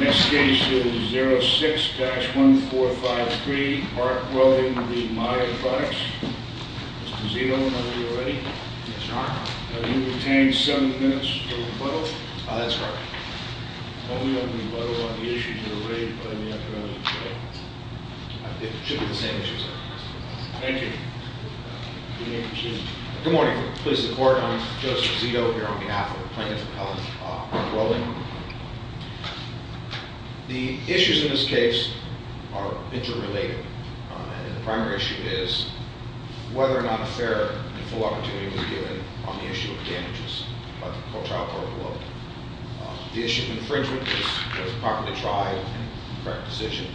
Next case is 06-1455. 3, Mark Welding, the Maya Products. Mr. Zito, are you ready? Yes, your honor. You retain seven minutes for rebuttal. That's correct. Only on rebuttal on the issues that were raised by the attorney today. I think it should be the same issues. Thank you. Good morning, Mr. Chairman. Please support, I'm Joseph Zito here on behalf of the plaintiff's appellate, Mark Welding. The issues in this case are interrelated. And the primary issue is whether or not a fair and full opportunity was given on the issue of damages by the Co-Trial Court of Law. The issue of infringement was properly tried and the correct decision.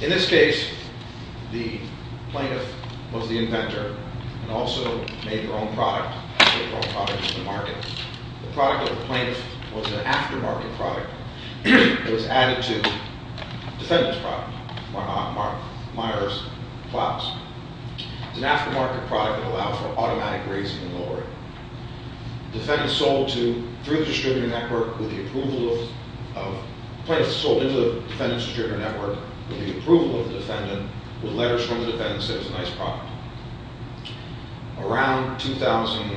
In this case, the plaintiff was the inventor and also made their own product. Made their own product to the market. The product of the plaintiff was an aftermarket product. It was added to the defendant's product, Meyers' Pops. It's an aftermarket product that allowed for automatic raising and lowering. Defendants sold to, through the distributor network with the approval of, plaintiffs sold into the defendant's distributor network with the approval of the defendant, with letters from the defendant saying it was a nice product. Around 2000,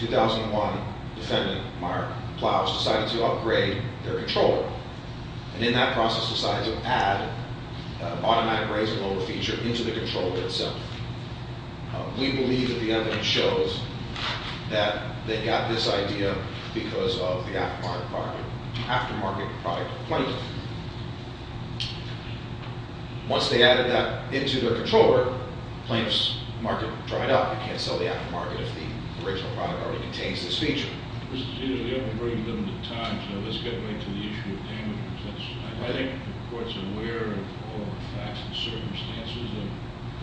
2001, the defendant, Mark Plows, decided to upgrade their controller. And in that process, decided to add an automatic raise and lower feature into the controller itself. We believe that the evidence shows that they got this idea because of the aftermarket product, the aftermarket product of the plaintiff. Once they added that into their controller, the plaintiff's market dried up. You can't sell the aftermarket if the original product already contains this feature. This is usually a very limited time, so let's get right to the issue of damages. I think the court's aware of all the facts and circumstances of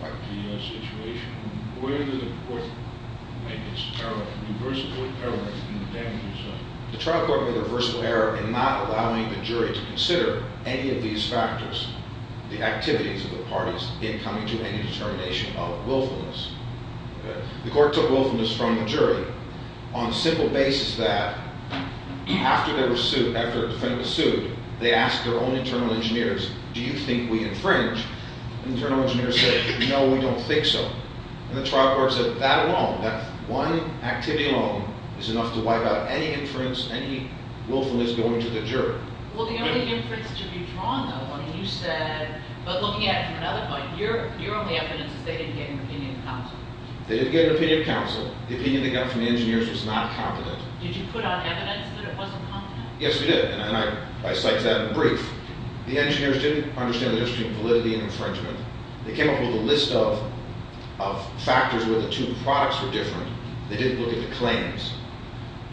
the situation. Where did the court make its irreversible error in the damages? The trial court made a reversible error in not allowing the jury to consider any of these factors, the activities of the parties in coming to any determination of willfulness. The court took willfulness from the jury on the simple basis that after the defendant was sued, they asked their own internal engineers, do you think we infringe? Internal engineers said, no, we don't think so. And the trial court said that alone, that one activity alone is enough to wipe out any inference, any willfulness going to the jury. Well, the only inference to be drawn, though, when you said, but looking at it from another point, your only evidence is they didn't get an opinion of counsel. They didn't get an opinion of counsel. The opinion they got from the engineers was not competent. Did you put out evidence that it wasn't competent? Yes, we did, and I cite that in the brief. The engineers didn't understand the difference between validity and infringement. They came up with a list of factors where the two products were different. They didn't look at the claims.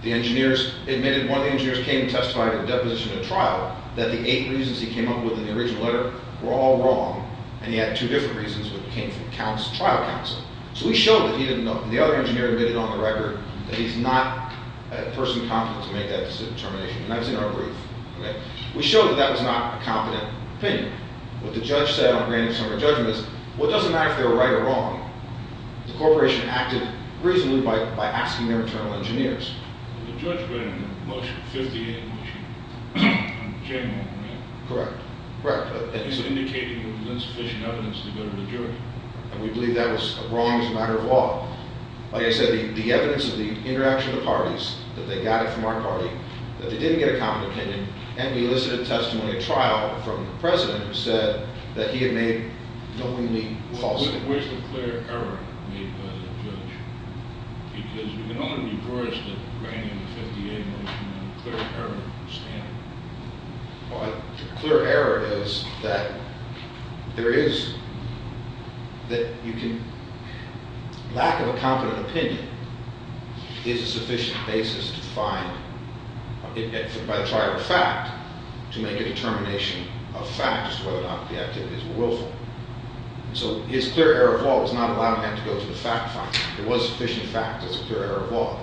The engineers admitted, one of the engineers came and testified in a deposition at trial that the eight reasons he came up with in the original letter were all wrong, and he had two different reasons that came from trial counsel. So we showed that he didn't know, and the other engineer admitted on the record that he's not a person competent to make that determination, and that was in our brief. We showed that that was not a competent opinion. What the judge said on granting some of the judgments, what doesn't matter if they were right or wrong, the corporation acted reasonably by asking their internal engineers. The judge granted a motion, a 50-year motion, on the chairman, right? Correct, correct. He's indicating there was insufficient evidence to go to the jury. And we believe that was wrong as a matter of law. Like I said, the evidence of the interaction of the parties, that they got it from our party, that they didn't get a competent opinion, and we elicited testimony at trial from the president who said that he had made no unique false statements. Where's the clear error made by the judge? Because we can only divorce the granting of the 50-year motion on a clear error standard. Well, a clear error is that there is—that you can— to make a determination of fact as to whether or not the activities were willful. So his clear error of law was not allowing him to go to the fact finder. There was sufficient fact as a clear error of law.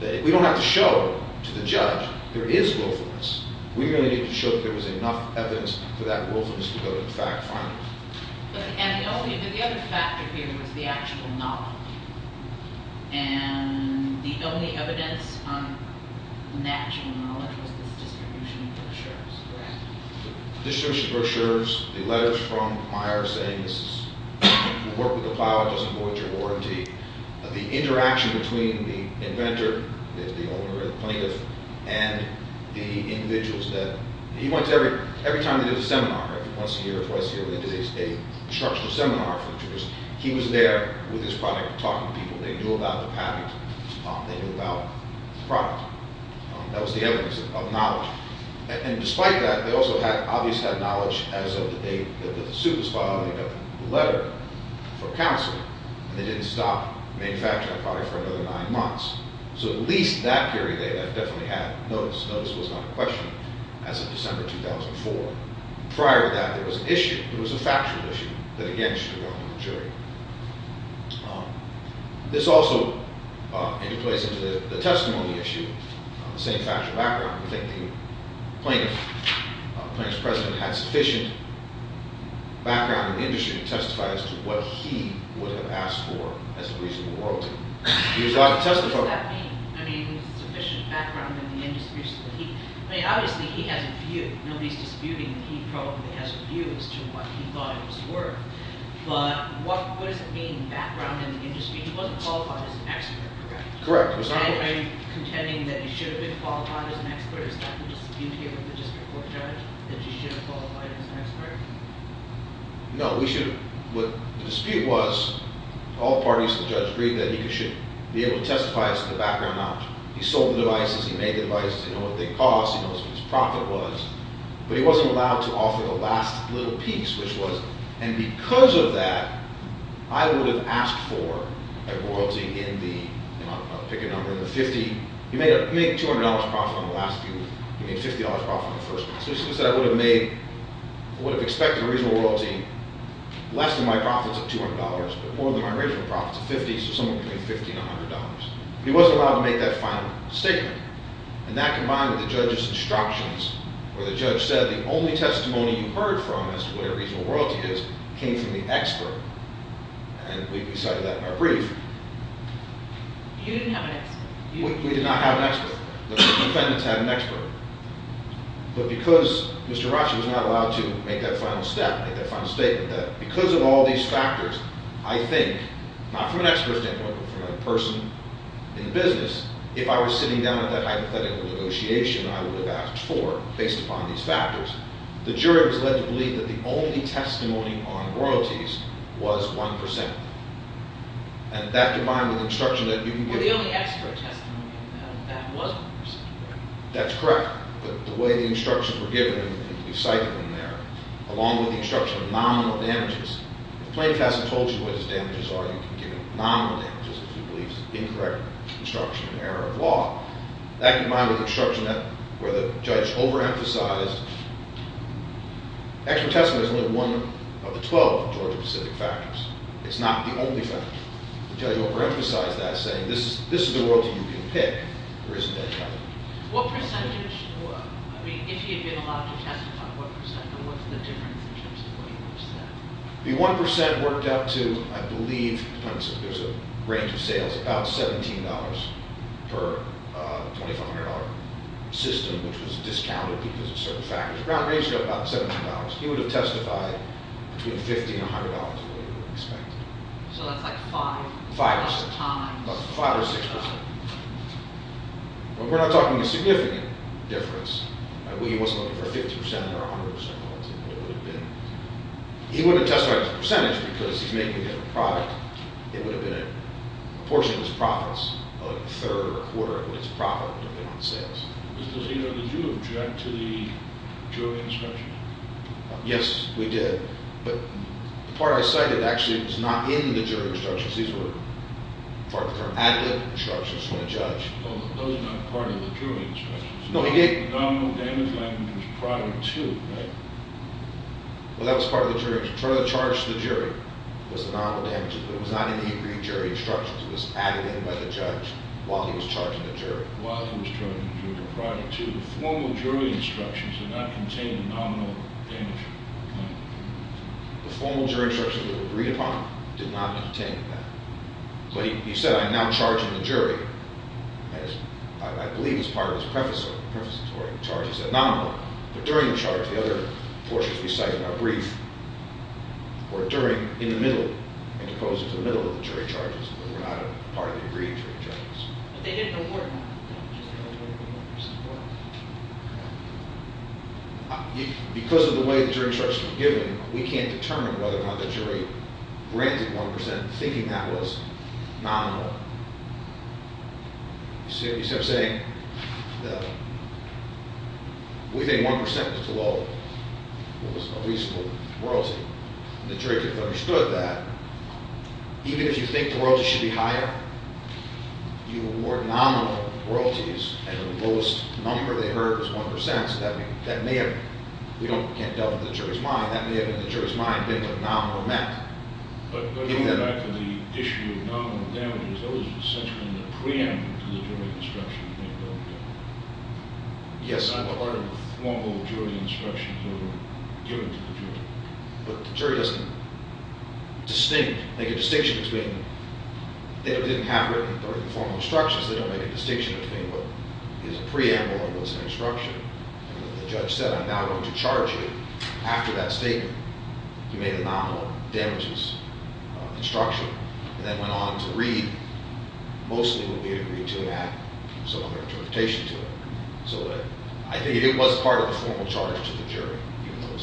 We don't have to show to the judge there is willfulness. We really need to show that there was enough evidence for that willfulness to go to the fact finder. And the other factor here was the actual knowledge. And the only evidence on natural knowledge was this distribution of brochures, correct? Distribution of brochures, the letters from Myers saying this is— you work with the plow, it doesn't void your warranty. The interaction between the inventor, the owner or the plaintiff, and the individuals that— he went to every—every time they did a seminar, every once a year or twice a year, when they did a instructional seminar for the jurors, he was there with his product talking to people. They knew about the patent. They knew about the product. That was the evidence of knowledge. And despite that, they also had—obviously had knowledge as of the date that the suit was filed. They got the letter from counsel, and they didn't stop manufacturing the product for another nine months. So at least that period, they definitely had notice. Notice was not a question as of December 2004. Prior to that, there was an issue. There was a factual issue that, again, should have gone to the jury. This also interplays into the testimony issue, the same factual background. We think the plaintiff, the plaintiff's president, had sufficient background in the industry to testify as to what he would have asked for as the police of the world. He was allowed to testify— What does that mean? I mean, sufficient background in the industry? I mean, obviously he has a view. Nobody's disputing. He probably has a view as to what he thought it was worth. But what does it mean, background in the industry? He wasn't qualified as an expert, correct? Correct. Are you contending that he should have been qualified as an expert? Is that the dispute here with the district court judge, that he should have qualified as an expert? No, we should—what the dispute was, all parties to the judge agreed that he should be able to testify as to the background knowledge. He sold the devices. He made the devices. He knows what they cost. He knows what his profit was. But he wasn't allowed to offer the last little piece, which was— And because of that, I would have asked for a royalty in the—I'll pick a number—in the 50— He made a $200 profit on the last piece. He made a $50 profit on the first piece. So he said I would have made—I would have expected a reasonable royalty less than my profits of $200, but more than my original profits of $50, so somewhere between $50 and $100. He wasn't allowed to make that final statement. And that combined with the judge's instructions, where the judge said the only testimony you heard from as to what a reasonable royalty is came from the expert. And we cited that in our brief. You didn't have an expert. We did not have an expert. The defendants had an expert. But because Mr. Rasha was not allowed to make that final step, make that final statement, that because of all these factors, I think, not from an expert standpoint, but from a person in the business, if I was sitting down at that hypothetical negotiation, I would have asked for, based upon these factors, the jury was led to believe that the only testimony on royalties was 1%. And that combined with the instruction that you can give— That's correct. The way the instructions were given, and you cited them there, along with the instruction of nominal damages. If a plaintiff hasn't told you what his damages are, you can give him nominal damages if he believes incorrect instruction and error of law. That combined with the instruction where the judge overemphasized— Expert testimony is only one of the 12 Georgia Pacific factors. It's not the only factor. The judge overemphasized that, saying, this is the royalty you can pick, or isn't that right? What percentage—I mean, if he had been allowed to testify, what percent? And what's the difference in terms of what he would have said? The 1% worked out to, I believe, there's a range of sales, about $17 per $2,500 system, which was discounted because of certain factors. The ground ratio, about $17. He would have testified between $50 and $100 of what he would have expected. So that's like five— Five or six. —times. Five or six times. But we're not talking a significant difference. He wasn't looking for 50% or 100% of what it would have been. He wouldn't have testified as a percentage because he's making it a product. It would have been a portion of his profits, a third or a quarter of his profit, depending on sales. Mr. Zito, did you object to the Georgia instruction? Yes, we did. But the part I cited actually was not in the jury instructions. These were part of the—added instructions from the judge. No, that was not part of the jury instructions. No, he gave— The nominal damage language was prior to, right? Well, that was part of the jury instructions. Part of the charge to the jury was the nominal damages, but it was not in the agreed jury instructions. It was added in by the judge while he was charging the jury. While he was charging the jury, prior to. The formal jury instructions did not contain the nominal damage language. The formal jury instructions that were agreed upon did not contain that. But he said, I'm now charging the jury. I believe it was part of his preface to the jury charge. He said, nominal. But during the charge, the other portions we cite in our brief were during, in the middle, and opposed to the middle of the jury charges that were not part of the agreed jury charges. But they didn't award them. Because of the way the jury charge was given, we can't determine whether or not the jury granted 1% thinking that was nominal. You see what I'm saying? We think 1% was a reasonable royalty. The jury could have understood that. Even if you think the royalty should be higher, you award nominal royalties, and the lowest number they heard was 1%. So that may have, we can't doubt the jury's mind, that may have in the jury's mind been what nominal meant. But going back to the issue of nominal damages, that was essentially the preamble to the jury instruction. Yes. Part of the formal jury instructions that were given to the jury. But the jury doesn't distinct, make a distinction between them. They didn't have written the formal instructions. They don't make a distinction between what is a preamble and what's an instruction. And when the judge said, I'm now going to charge you, after that statement, you made a nominal damages instruction. And then went on to read, mostly what we agreed to, and add some other interpretation to it. So I think it was part of the formal charge to the jury.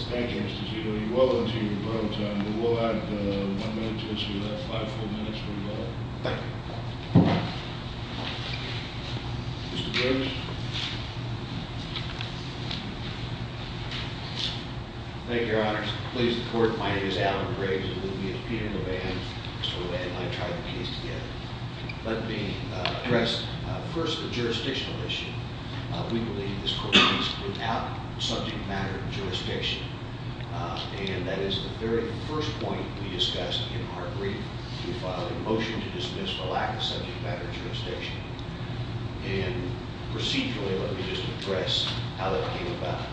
Thank you, Mr. Giuliani. Welcome to your program time. We will have one minute to issue that. Five full minutes for you all. Thank you. Mr. Briggs. Thank you, Your Honors. Please support. My name is Alan Briggs. This is Peter Levan. Mr. Levan and I tried the case together. Let me address first the jurisdictional issue. We believe this court is without subject matter jurisdiction. And that is the very first point we discussed in our brief. We filed a motion to dismiss the lack of subject matter jurisdiction. And procedurally, let me just address how that came about.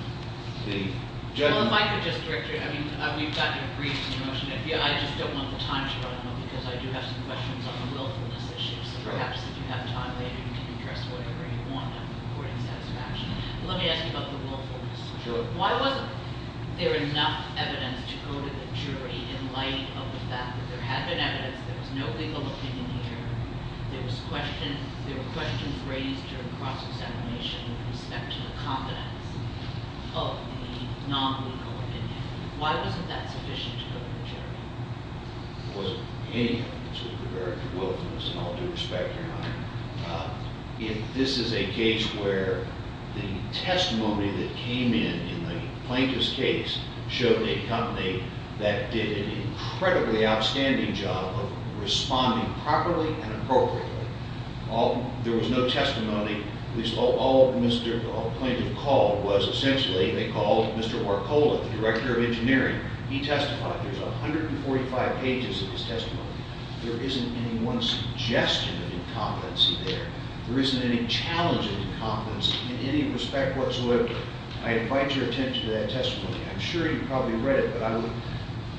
Well, if I could just direct you. I mean, we've got your briefs in motion. I just don't want the time to run out because I do have some questions on the willfulness issue. So perhaps if you have time later, you can address whatever you want. I'm reporting satisfaction. Let me ask you about the willfulness. Sure. Why wasn't there enough evidence to go to the jury in light of the fact that there had been evidence, there was no legal opinion here, there were questions raised during the process of animation with respect to the confidence of the non-legal opinion? Why wasn't that sufficient to go to the jury? There wasn't any evidence with regard to willfulness in all due respect, Your Honor. If this is a case where the testimony that came in in the plaintiff's case showed a company that did an incredibly outstanding job of responding properly and appropriately, there was no testimony, at least all the plaintiffs called was essentially, they called Mr. Warkola, the director of engineering. He testified. There's 145 pages of his testimony. There isn't any one suggestion of incompetency there. There isn't any challenge of incompetency in any respect whatsoever. I invite your attention to that testimony. I'm sure you probably read it, but I would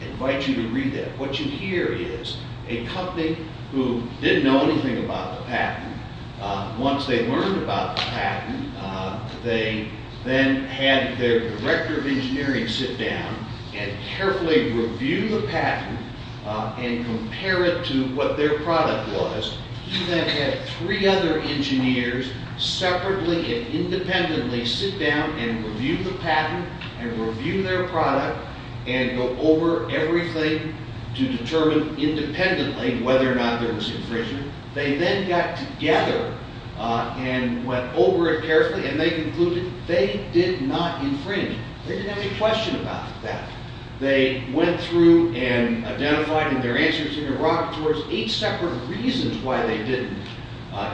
invite you to read that. What you hear is a company who didn't know anything about the patent. Once they learned about the patent, they then had their director of engineering sit down and carefully review the patent and compare it to what their product was. He then had three other engineers separately and independently sit down and review the patent and review their product and go over everything to determine independently whether or not there was infringement. They then got together and went over it carefully, and they concluded they did not infringe it. They didn't have any question about that. They went through and identified in their answers and interrogators eight separate reasons why they didn't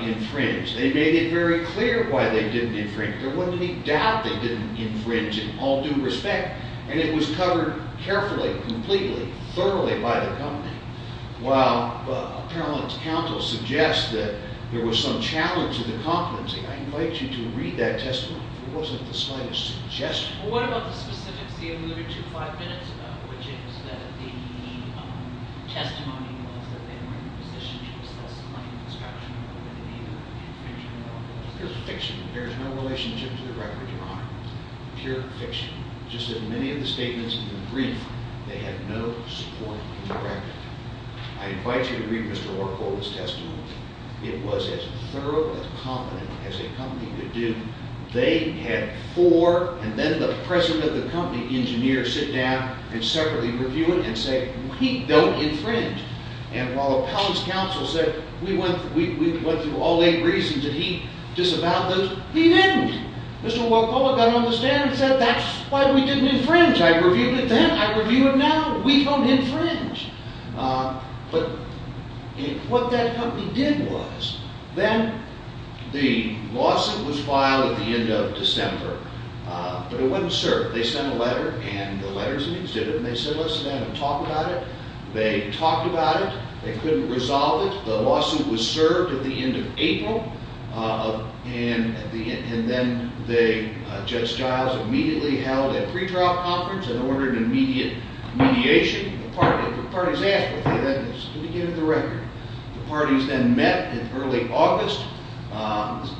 infringe. They made it very clear why they didn't infringe. There wasn't any doubt they didn't infringe in all due respect, and it was covered carefully, completely, thoroughly by the company. While apparellant counsel suggests that there was some challenge to the competency, I invite you to read that testimony if it wasn't the slightest suggestion. Well, what about the specifics you alluded to five minutes ago, which is that the testimony was that they weren't in a position to assess claim construction or whether they either infringed or not? Pure fiction. It bears no relationship to the record, Your Honor. Pure fiction. Just as many of the statements in the brief, they had no support in the record. I invite you to read Mr. Orkola's testimony. It was as thorough, as competent as a company could do. They had four, and then the president of the company, engineers, sit down and separately review it and say, we don't infringe. And while appellant's counsel said, we went through all eight reasons, did he disavow those? He didn't. Mr. Orkola got on the stand and said, that's why we didn't infringe. I reviewed it then. I review it now. We don't infringe. But what that company did was, then the lawsuit was filed at the end of December. But it wasn't served. They sent a letter, and the letters and exhibit, and they said, let's sit down and talk about it. They talked about it. They couldn't resolve it. The lawsuit was served at the end of April. And then Judge Giles immediately held a pretrial conference and ordered an immediate mediation. The parties asked if they could get it to the record. The parties then met in early August,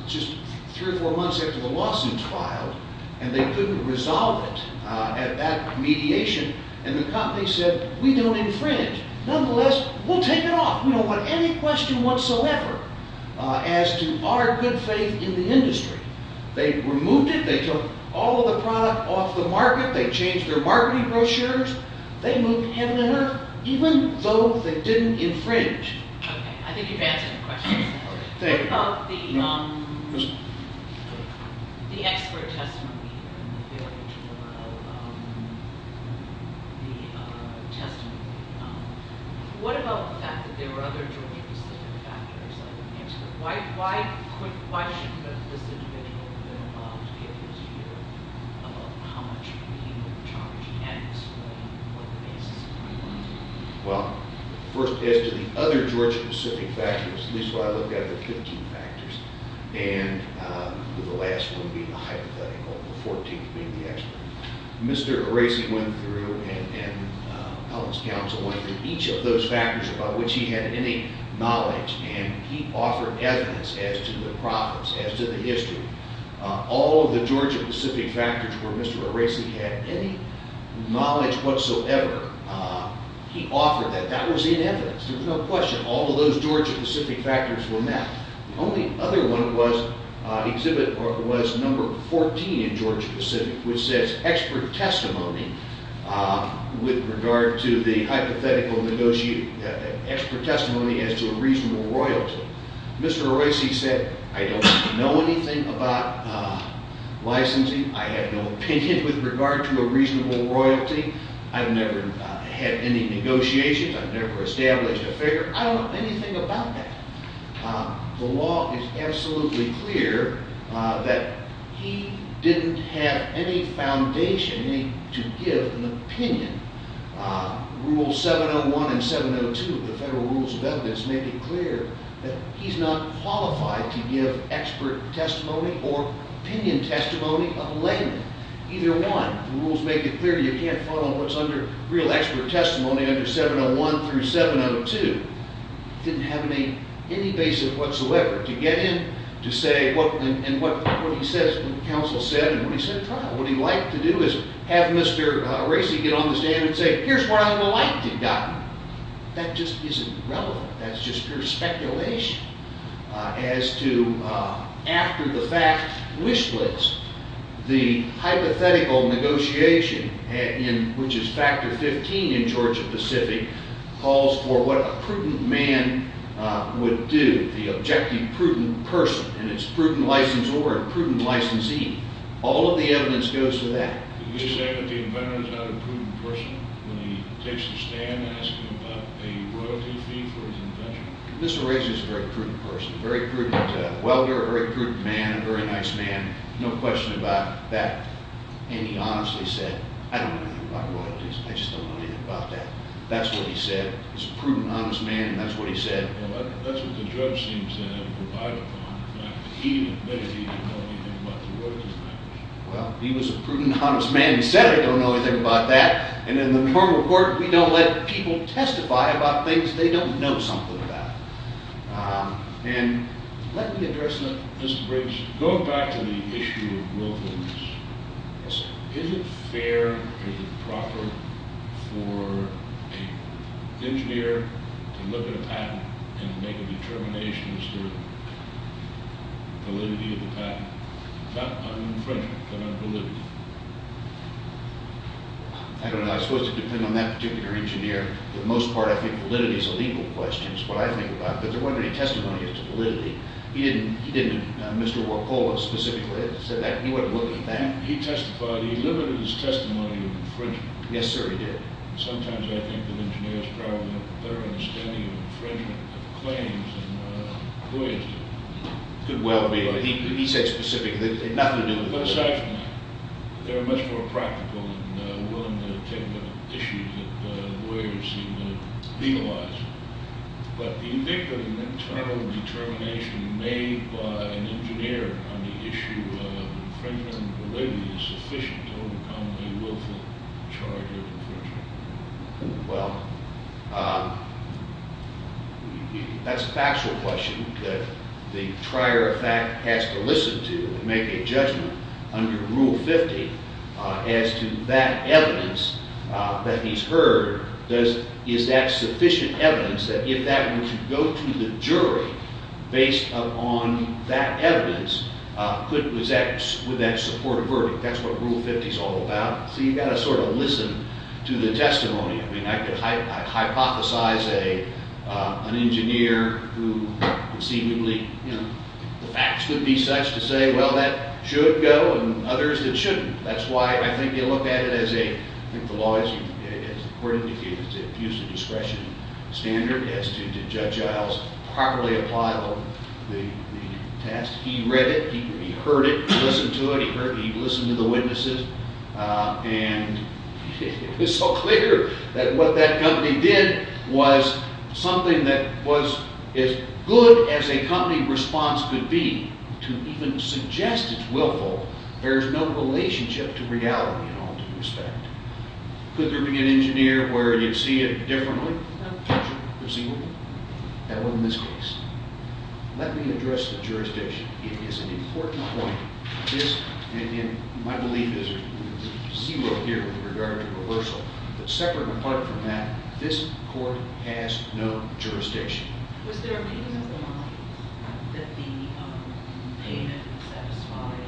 just three or four months after the lawsuit was filed, and they couldn't resolve it at that mediation. And the company said, we don't infringe. Nonetheless, we'll take it off. We don't want any question whatsoever as to our good faith in the industry. They removed it. They took all of the product off the market. They changed their marketing brochures. They moved heaven and earth, even though they didn't infringe. Okay. I think you've answered the question. Thank you. What about the expert testimony here and the very general testimony? What about the fact that there were other jury-specific factors? Why should this individual have been involved in getting his hearing about how much he was being charged and explaining what the basis of it was? Well, first, as to the other jury-specific factors, at least when I look at the 15 factors, and the last one being the hypothetical, the 14th being the expert, Mr. Areci went through and held his counsel on each of those factors about which he had any knowledge. And he offered evidence as to the problems, as to the history. All of the Georgia-Pacific factors where Mr. Areci had any knowledge whatsoever, he offered that. That was in evidence. There was no question. All of those Georgia-Pacific factors were met. The only other one was number 14 in Georgia-Pacific, which says expert testimony with regard to the hypothetical negotiate, expert testimony as to a reasonable royalty. Mr. Areci said, I don't know anything about licensing. I have no opinion with regard to a reasonable royalty. I've never had any negotiations. I've never established a figure. I don't know anything about that. The law is absolutely clear that he didn't have any foundation to give an opinion. Rule 701 and 702 of the Federal Rules of Evidence make it clear that he's not qualified to give expert testimony or opinion testimony of a layman, either one. The rules make it clear you can't follow what's under real expert testimony under 701 through 702. He didn't have any basis whatsoever to get in to say what he says, what the counsel said, and what he said at trial. What he liked to do is have Mr. Areci get on the stand and say, here's what I would have liked to have gotten. That just isn't relevant. That's just pure speculation as to after the fact wish list, the hypothetical negotiation, which is factor 15 in Georgia-Pacific, calls for what a prudent man would do, the objective prudent person, and it's prudent licensor and prudent licensee. All of the evidence goes to that. Mr. Areci is a very prudent person, a very prudent welder, a very prudent man, a very nice man, no question about that. And he honestly said, I don't know anything about royalties. I just don't know anything about that. That's what he said. He's a prudent, honest man, and that's what he said. Well, he was a prudent, honest man. He said, I don't know anything about that. And in the normal court, we don't let people testify about things they don't know something about. And let me address that. Mr. Briggs, going back to the issue of royalties, is it fair or is it proper for an engineer to look at a patent and make a determination as to the validity of the patent? It's not un-infringement, but un-validity. I don't know. It's supposed to depend on that particular engineer. For the most part, I think validity is a legal question, is what I think about. But there wasn't any testimony as to validity. He didn't, Mr. Wakola specifically said that. He testified. He limited his testimony to infringement. Yes, sir, he did. Sometimes I think that engineers probably have a better understanding of infringement claims than lawyers do. Could well be. He said specifically. It had nothing to do with that. But aside from that, they're much more practical and willing to take the issues that lawyers seem to legalize. But the eviction and internal determination made by an engineer on the issue of infringement validity is sufficient to overcome a willful charge of infringement. Well, that's a factual question that the trier of fact has to listen to and make a judgment under Rule 50 as to that evidence that he's heard. Is that sufficient evidence that if that were to go to the jury based upon that evidence, could that support a verdict? That's what Rule 50 is all about. So you've got to sort of listen to the testimony. I mean, I could hypothesize an engineer who conceivably, you know, the facts would be such to say, well, that should go, and others that shouldn't. That's why I think you look at it as a, I think the law, as the court indicated, is to use the discretion standard as to did Judge Iles properly apply the test. He read it. He heard it. He listened to it. He listened to the witnesses. And it was so clear that what that company did was something that was as good as a company response could be to even suggest it's willful bears no relationship to reality in all due respect. Could there be an engineer where you'd see it differently? No. Perceivable? No. That wasn't this case. Let me address the jurisdiction. It is an important point. This, and my belief is zero here with regard to reversal, but separate and apart from that, this court has no jurisdiction. Was there a meeting of the minds that the payment satisfied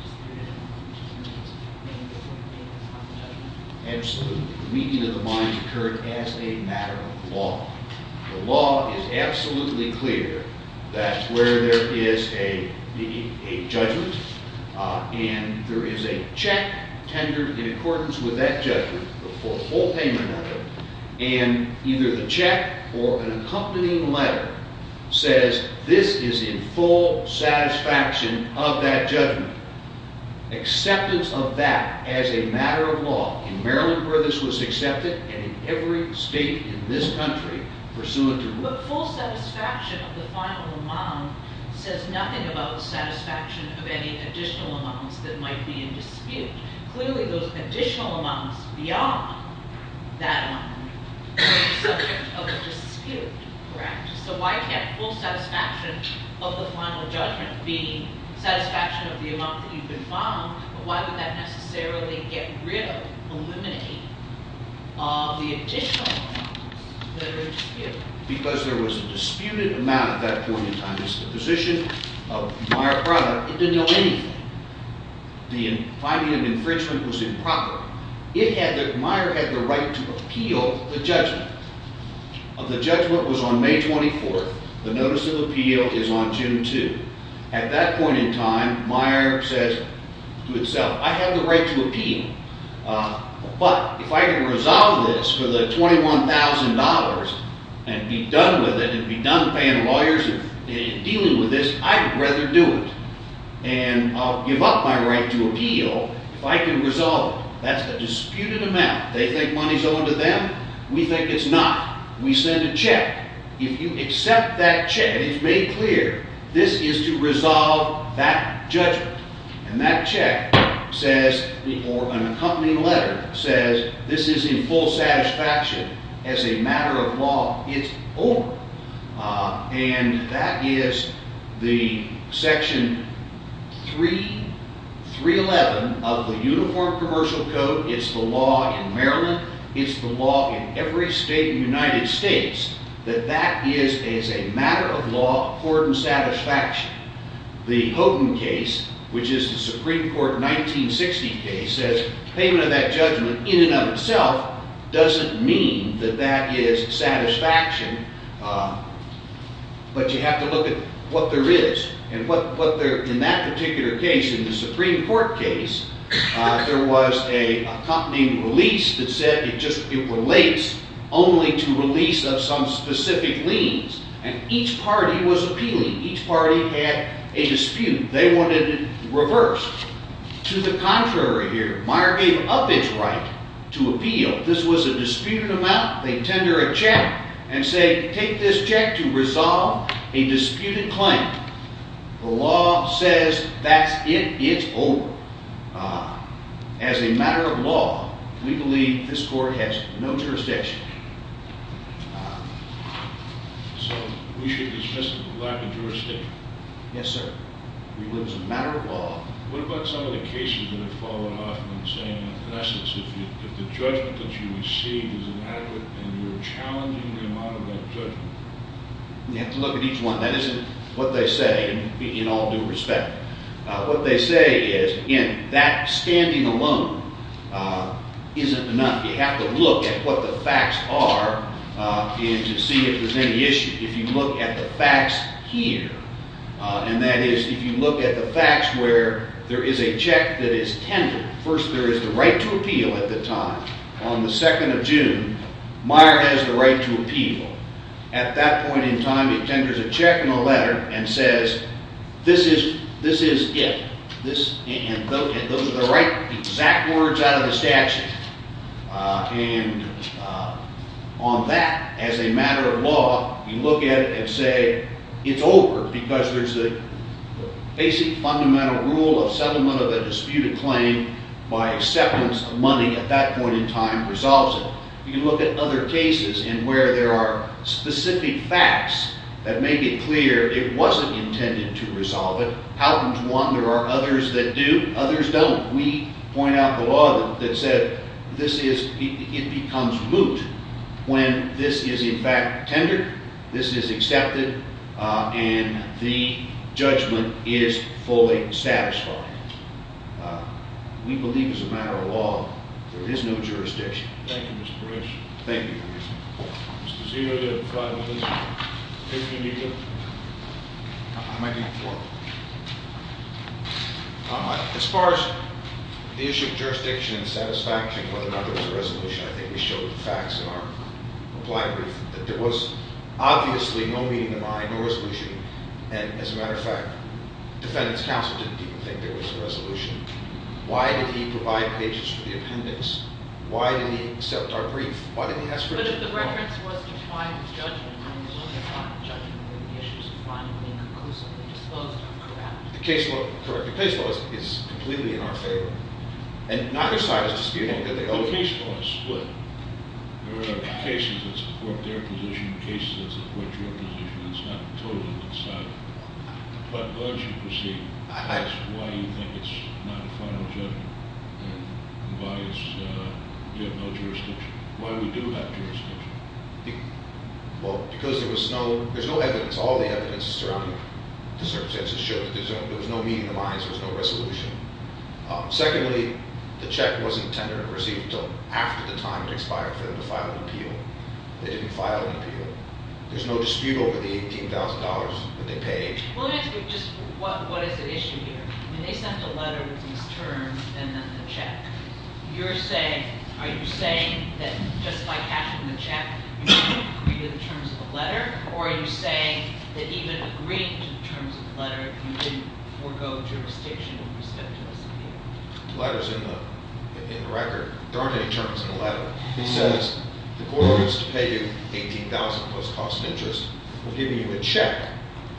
just through the determination of the payment? Absolutely. The meeting of the minds occurred as a matter of law. The law is absolutely clear that where there is a judgment and there is a check tendered in accordance with that judgment for a full payment of it, and either the check or an accompanying letter says this is in full satisfaction of that judgment, acceptance of that as a matter of law in Maryland where this was accepted and in every state in this country pursuant to rule. But full satisfaction of the final amount says nothing about the satisfaction of any additional amounts that might be in dispute. Clearly those additional amounts beyond that amount are subject of a dispute, correct? So why can't full satisfaction of the final judgment be satisfaction of the amount that you've been found, but why would that necessarily get rid of, eliminate of the additional amounts that are in dispute? Because there was a disputed amount at that point in time. This is the position of Meyer Product. It didn't know anything. The finding of infringement was improper. Meyer had the right to appeal the judgment. The judgment was on May 24th. The notice of appeal is on June 2nd. At that point in time, Meyer says to itself, I have the right to appeal. But if I can resolve this for the $21,000 and be done with it and be done paying lawyers and dealing with this, I'd rather do it. And I'll give up my right to appeal if I can resolve it. That's a disputed amount. They think money's owed to them. We think it's not. We send a check. If you accept that check, it's made clear this is to resolve that judgment. And that check says, or an accompanying letter says, this is in full satisfaction as a matter of law. It's over. And that is the Section 311 of the Uniform Commercial Code. It's the law in Maryland. It's the law in every state in the United States that that is a matter of law according to satisfaction. The Houghton case, which is the Supreme Court 1960 case, says payment of that judgment in and of itself doesn't mean that that is satisfaction. But you have to look at what there is. And in that particular case, in the Supreme Court case, there was a accompanying release that said it relates only to release of some specific liens. And each party was appealing. Each party had a dispute. They wanted it reversed. To the contrary here, Meyer gave up his right to appeal. This was a disputed amount. They tender a check and say, take this check to resolve a disputed claim. The law says that's it. It's over. As a matter of law, we believe this court has no jurisdiction. So we should dismiss the lack of jurisdiction? Yes, sir. We believe it's a matter of law. What about some of the cases that have followed off and saying, in essence, if the judgment that you receive is inadequate and you're challenging the amount of that judgment? You have to look at each one. That isn't what they say in all due respect. What they say is, again, that standing alone isn't enough. You have to look at what the facts are to see if there's any issue. If you look at the facts here, and that is if you look at the facts where there is a check that is tendered. First, there is the right to appeal at the time. On the 2nd of June, Meyer has the right to appeal. At that point in time, he tenders a check and a letter and says, this is it. And those are the right exact words out of the statute. And on that, as a matter of law, you look at it and say, it's over because there's a basic fundamental rule of settlement of a disputed claim by acceptance of money at that point in time resolves it. You can look at other cases and where there are specific facts that make it clear it wasn't intended to resolve it. How comes one? There are others that do. Others don't. We point out the law that said, it becomes moot when this is, in fact, tendered, this is accepted, and the judgment is fully satisfied. We believe, as a matter of law, there is no jurisdiction. Thank you, Mr. Grish. Thank you. Mr. Zia, do you have a thought on this in more detail? I might be before. As far as the issue of jurisdiction and satisfaction, whether or not there was a resolution, I think we showed the facts in our applied brief that there was obviously no meeting of the mind, no resolution. And as a matter of fact, defendants counsel didn't even think there was a resolution. Why did he provide pages for the appendix? Why did he accept our brief? Why didn't he ask for it? But if the reference was to a final judgment, when you look at a final judgment, when the issue is defined and being conclusively disposed of, correct? The case law, correct. The case law is completely in our favor. And neither side is disputing it. The case law is split. There are cases that support their position, cases that support your position. It's not totally decided. But why don't you proceed? Why do you think it's not a final judgment? And why is there no jurisdiction? Why do we do have jurisdiction? Well, because there's no evidence. All the evidence surrounding the circumstances shows that there was no meeting of the minds. There was no resolution. Secondly, the check wasn't tendered or received until after the time it expired for them to file an appeal. They didn't file an appeal. There's no dispute over the $18,000 that they paid. Well, let me ask you just what is the issue here? I mean, they sent a letter with these terms and then the check. Are you saying that just by cashing the check, you didn't agree to the terms of the letter? Or are you saying that even agreeing to the terms of the letter, you didn't forego jurisdiction with respect to this appeal? The letter's in the record. There aren't any terms in the letter. It says the court wants to pay you $18,000 plus cost of interest. We're giving you a check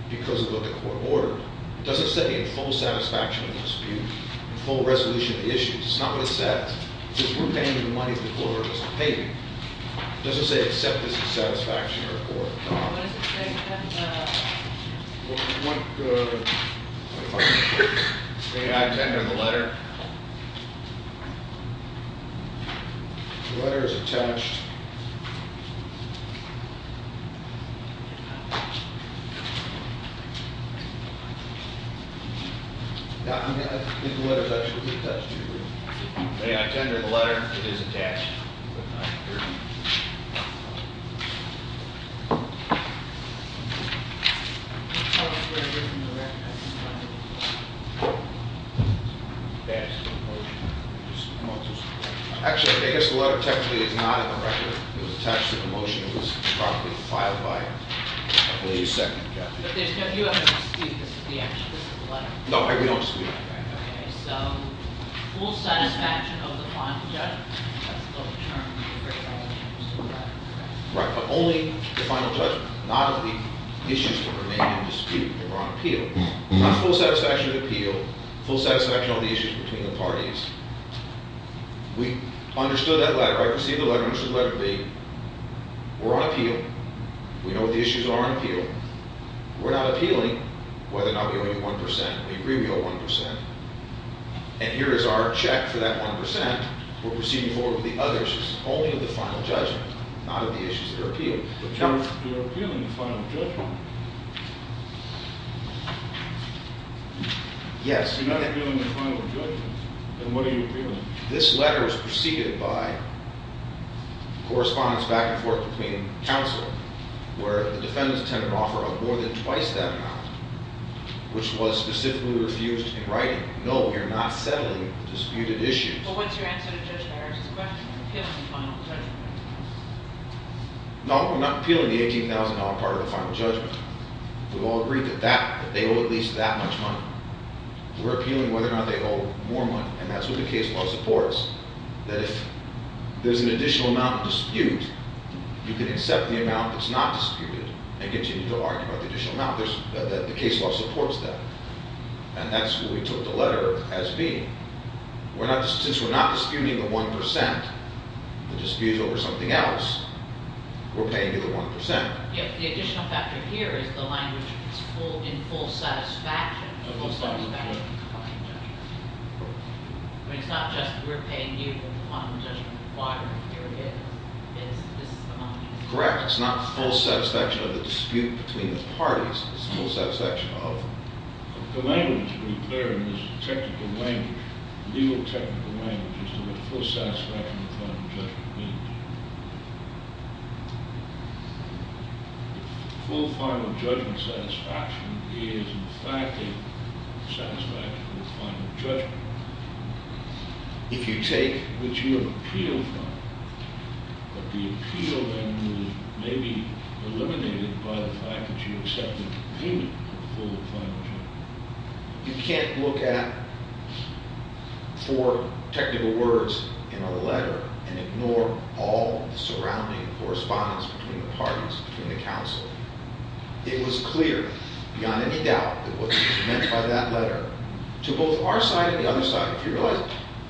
because of what the court ordered. It doesn't say a full satisfaction of the dispute, a full resolution of the issues. It's not what it says. It says we're paying you the money the court ordered us to pay you. It doesn't say accept this in satisfaction or accord. Well, what does it say? Well, you want the... May I tender the letter? The letter is attached. May I tender the letter? It is attached. May I tender the letter? It is attached. Actually, I guess the letter technically is not in the record. It was attached to the motion. It was probably filed by a second judge. But you haven't disputed this is the letter? No, we don't dispute it. Okay, so full satisfaction of the final judgment. Right, but only the final judgment. Not of the issues that were made in dispute, that were on appeal. Not full satisfaction of appeal. Full satisfaction of the issues between the parties. We understood that letter. I received the letter. I received the letter B. We're on appeal. We know what the issues are on appeal. We're not appealing whether or not we owe you 1%. We agree we owe 1%. And here is our check for that 1%. We're proceeding forward with the other issues. Only of the final judgment. Not of the issues that are appealed. But, John, you're appealing the final judgment. No. Yes. You're not appealing the final judgment. Then what are you appealing? This letter is proceeded by correspondence back and forth between counsel, where the defendants tend to offer up more than twice that amount, which was specifically refused in writing. No, we are not settling disputed issues. Well, what's your answer to Judge Harris's question? Appealing the final judgment. No, we're not appealing the $18,000 part of the final judgment. We've all agreed that they owe at least that much money. We're appealing whether or not they owe more money, and that's what the case law supports, that if there's an additional amount of dispute, you can accept the amount that's not disputed and continue to argue about the additional amount. The case law supports that. And that's what we took the letter as being. Since we're not disputing the 1%, the dispute over something else, we're paying you the 1%. Yes. The additional factor here is the language is in full satisfaction. In full satisfaction of the final judgment. Correct. I mean, it's not just we're paying you the final judgment. Why? Here it is. This is the money. Correct. It's not full satisfaction of the dispute between the parties. It's full satisfaction of... The language, to be clear, is technical language. Legal technical language. It's just a full satisfaction of the final judgment. Full final judgment satisfaction is, in fact, a satisfaction of the final judgment. If you take... Which you appeal from. But the appeal then is maybe eliminated by the fact that you accepted the payment of the full final judgment. You can't look at four technical words in a letter and ignore all the surrounding correspondence between the parties, between the counsel. It was clear, beyond any doubt, that what was meant by that letter to both our side and the other side, if you realize,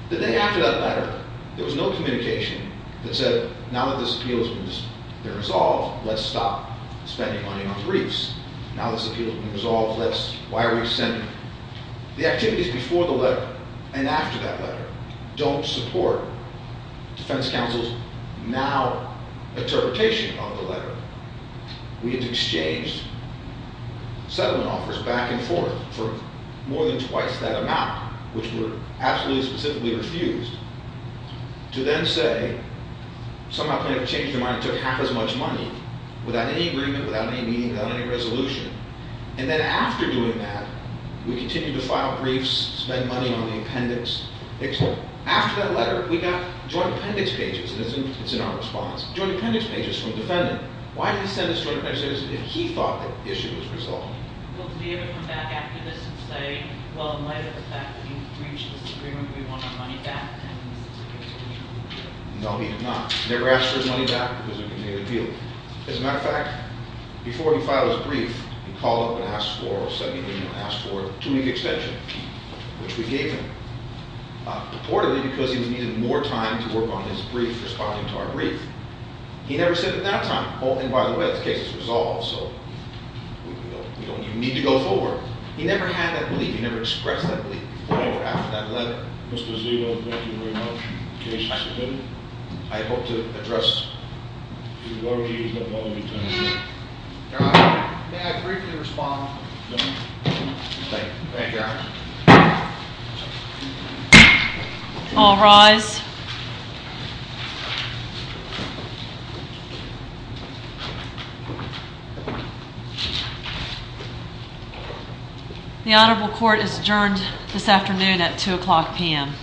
the day after that letter, there was no communication that said, now that this appeal has been resolved, let's stop spending money on briefs. Now this appeal has been resolved, let's... Why are we extending? The activities before the letter and after that letter don't support defense counsel's now interpretation of the letter. We have exchanged settlement offers back and forth for more than twice that amount, which we were absolutely specifically refused, to then say, somehow, kind of change their mind and took half as much money, without any agreement, without any meeting, without any resolution. And then after doing that, we continued to file briefs, spend money on the appendix, etc. After that letter, we got joint appendix pages. It's in our response. Joint appendix pages from the defendant. Why did he send us joint appendix pages if he thought that the issue was resolved? Well, did he ever come back after this and say, well, in light of the fact that we've reached this agreement, we want our money back, and this is a case of mutual appeal? No, he did not. He never asked for his money back because we continued the appeal. As a matter of fact, before he filed his brief, he called up and asked for a subpoena and asked for a two-week extension, which we gave him, purportedly because he needed more time to work on his brief, responding to our brief. He never said at that time, oh, and by the way, this case is resolved, so we don't even need to go forward. He never had that belief. He never expressed that belief, whenever after that letter. Mr. Ziegler, thank you very much. Case is submitted. I hope to address... Your Honor, may I briefly respond? No. Thank you, Your Honor. All rise. The honorable court is adjourned this afternoon at 2 o'clock p.m.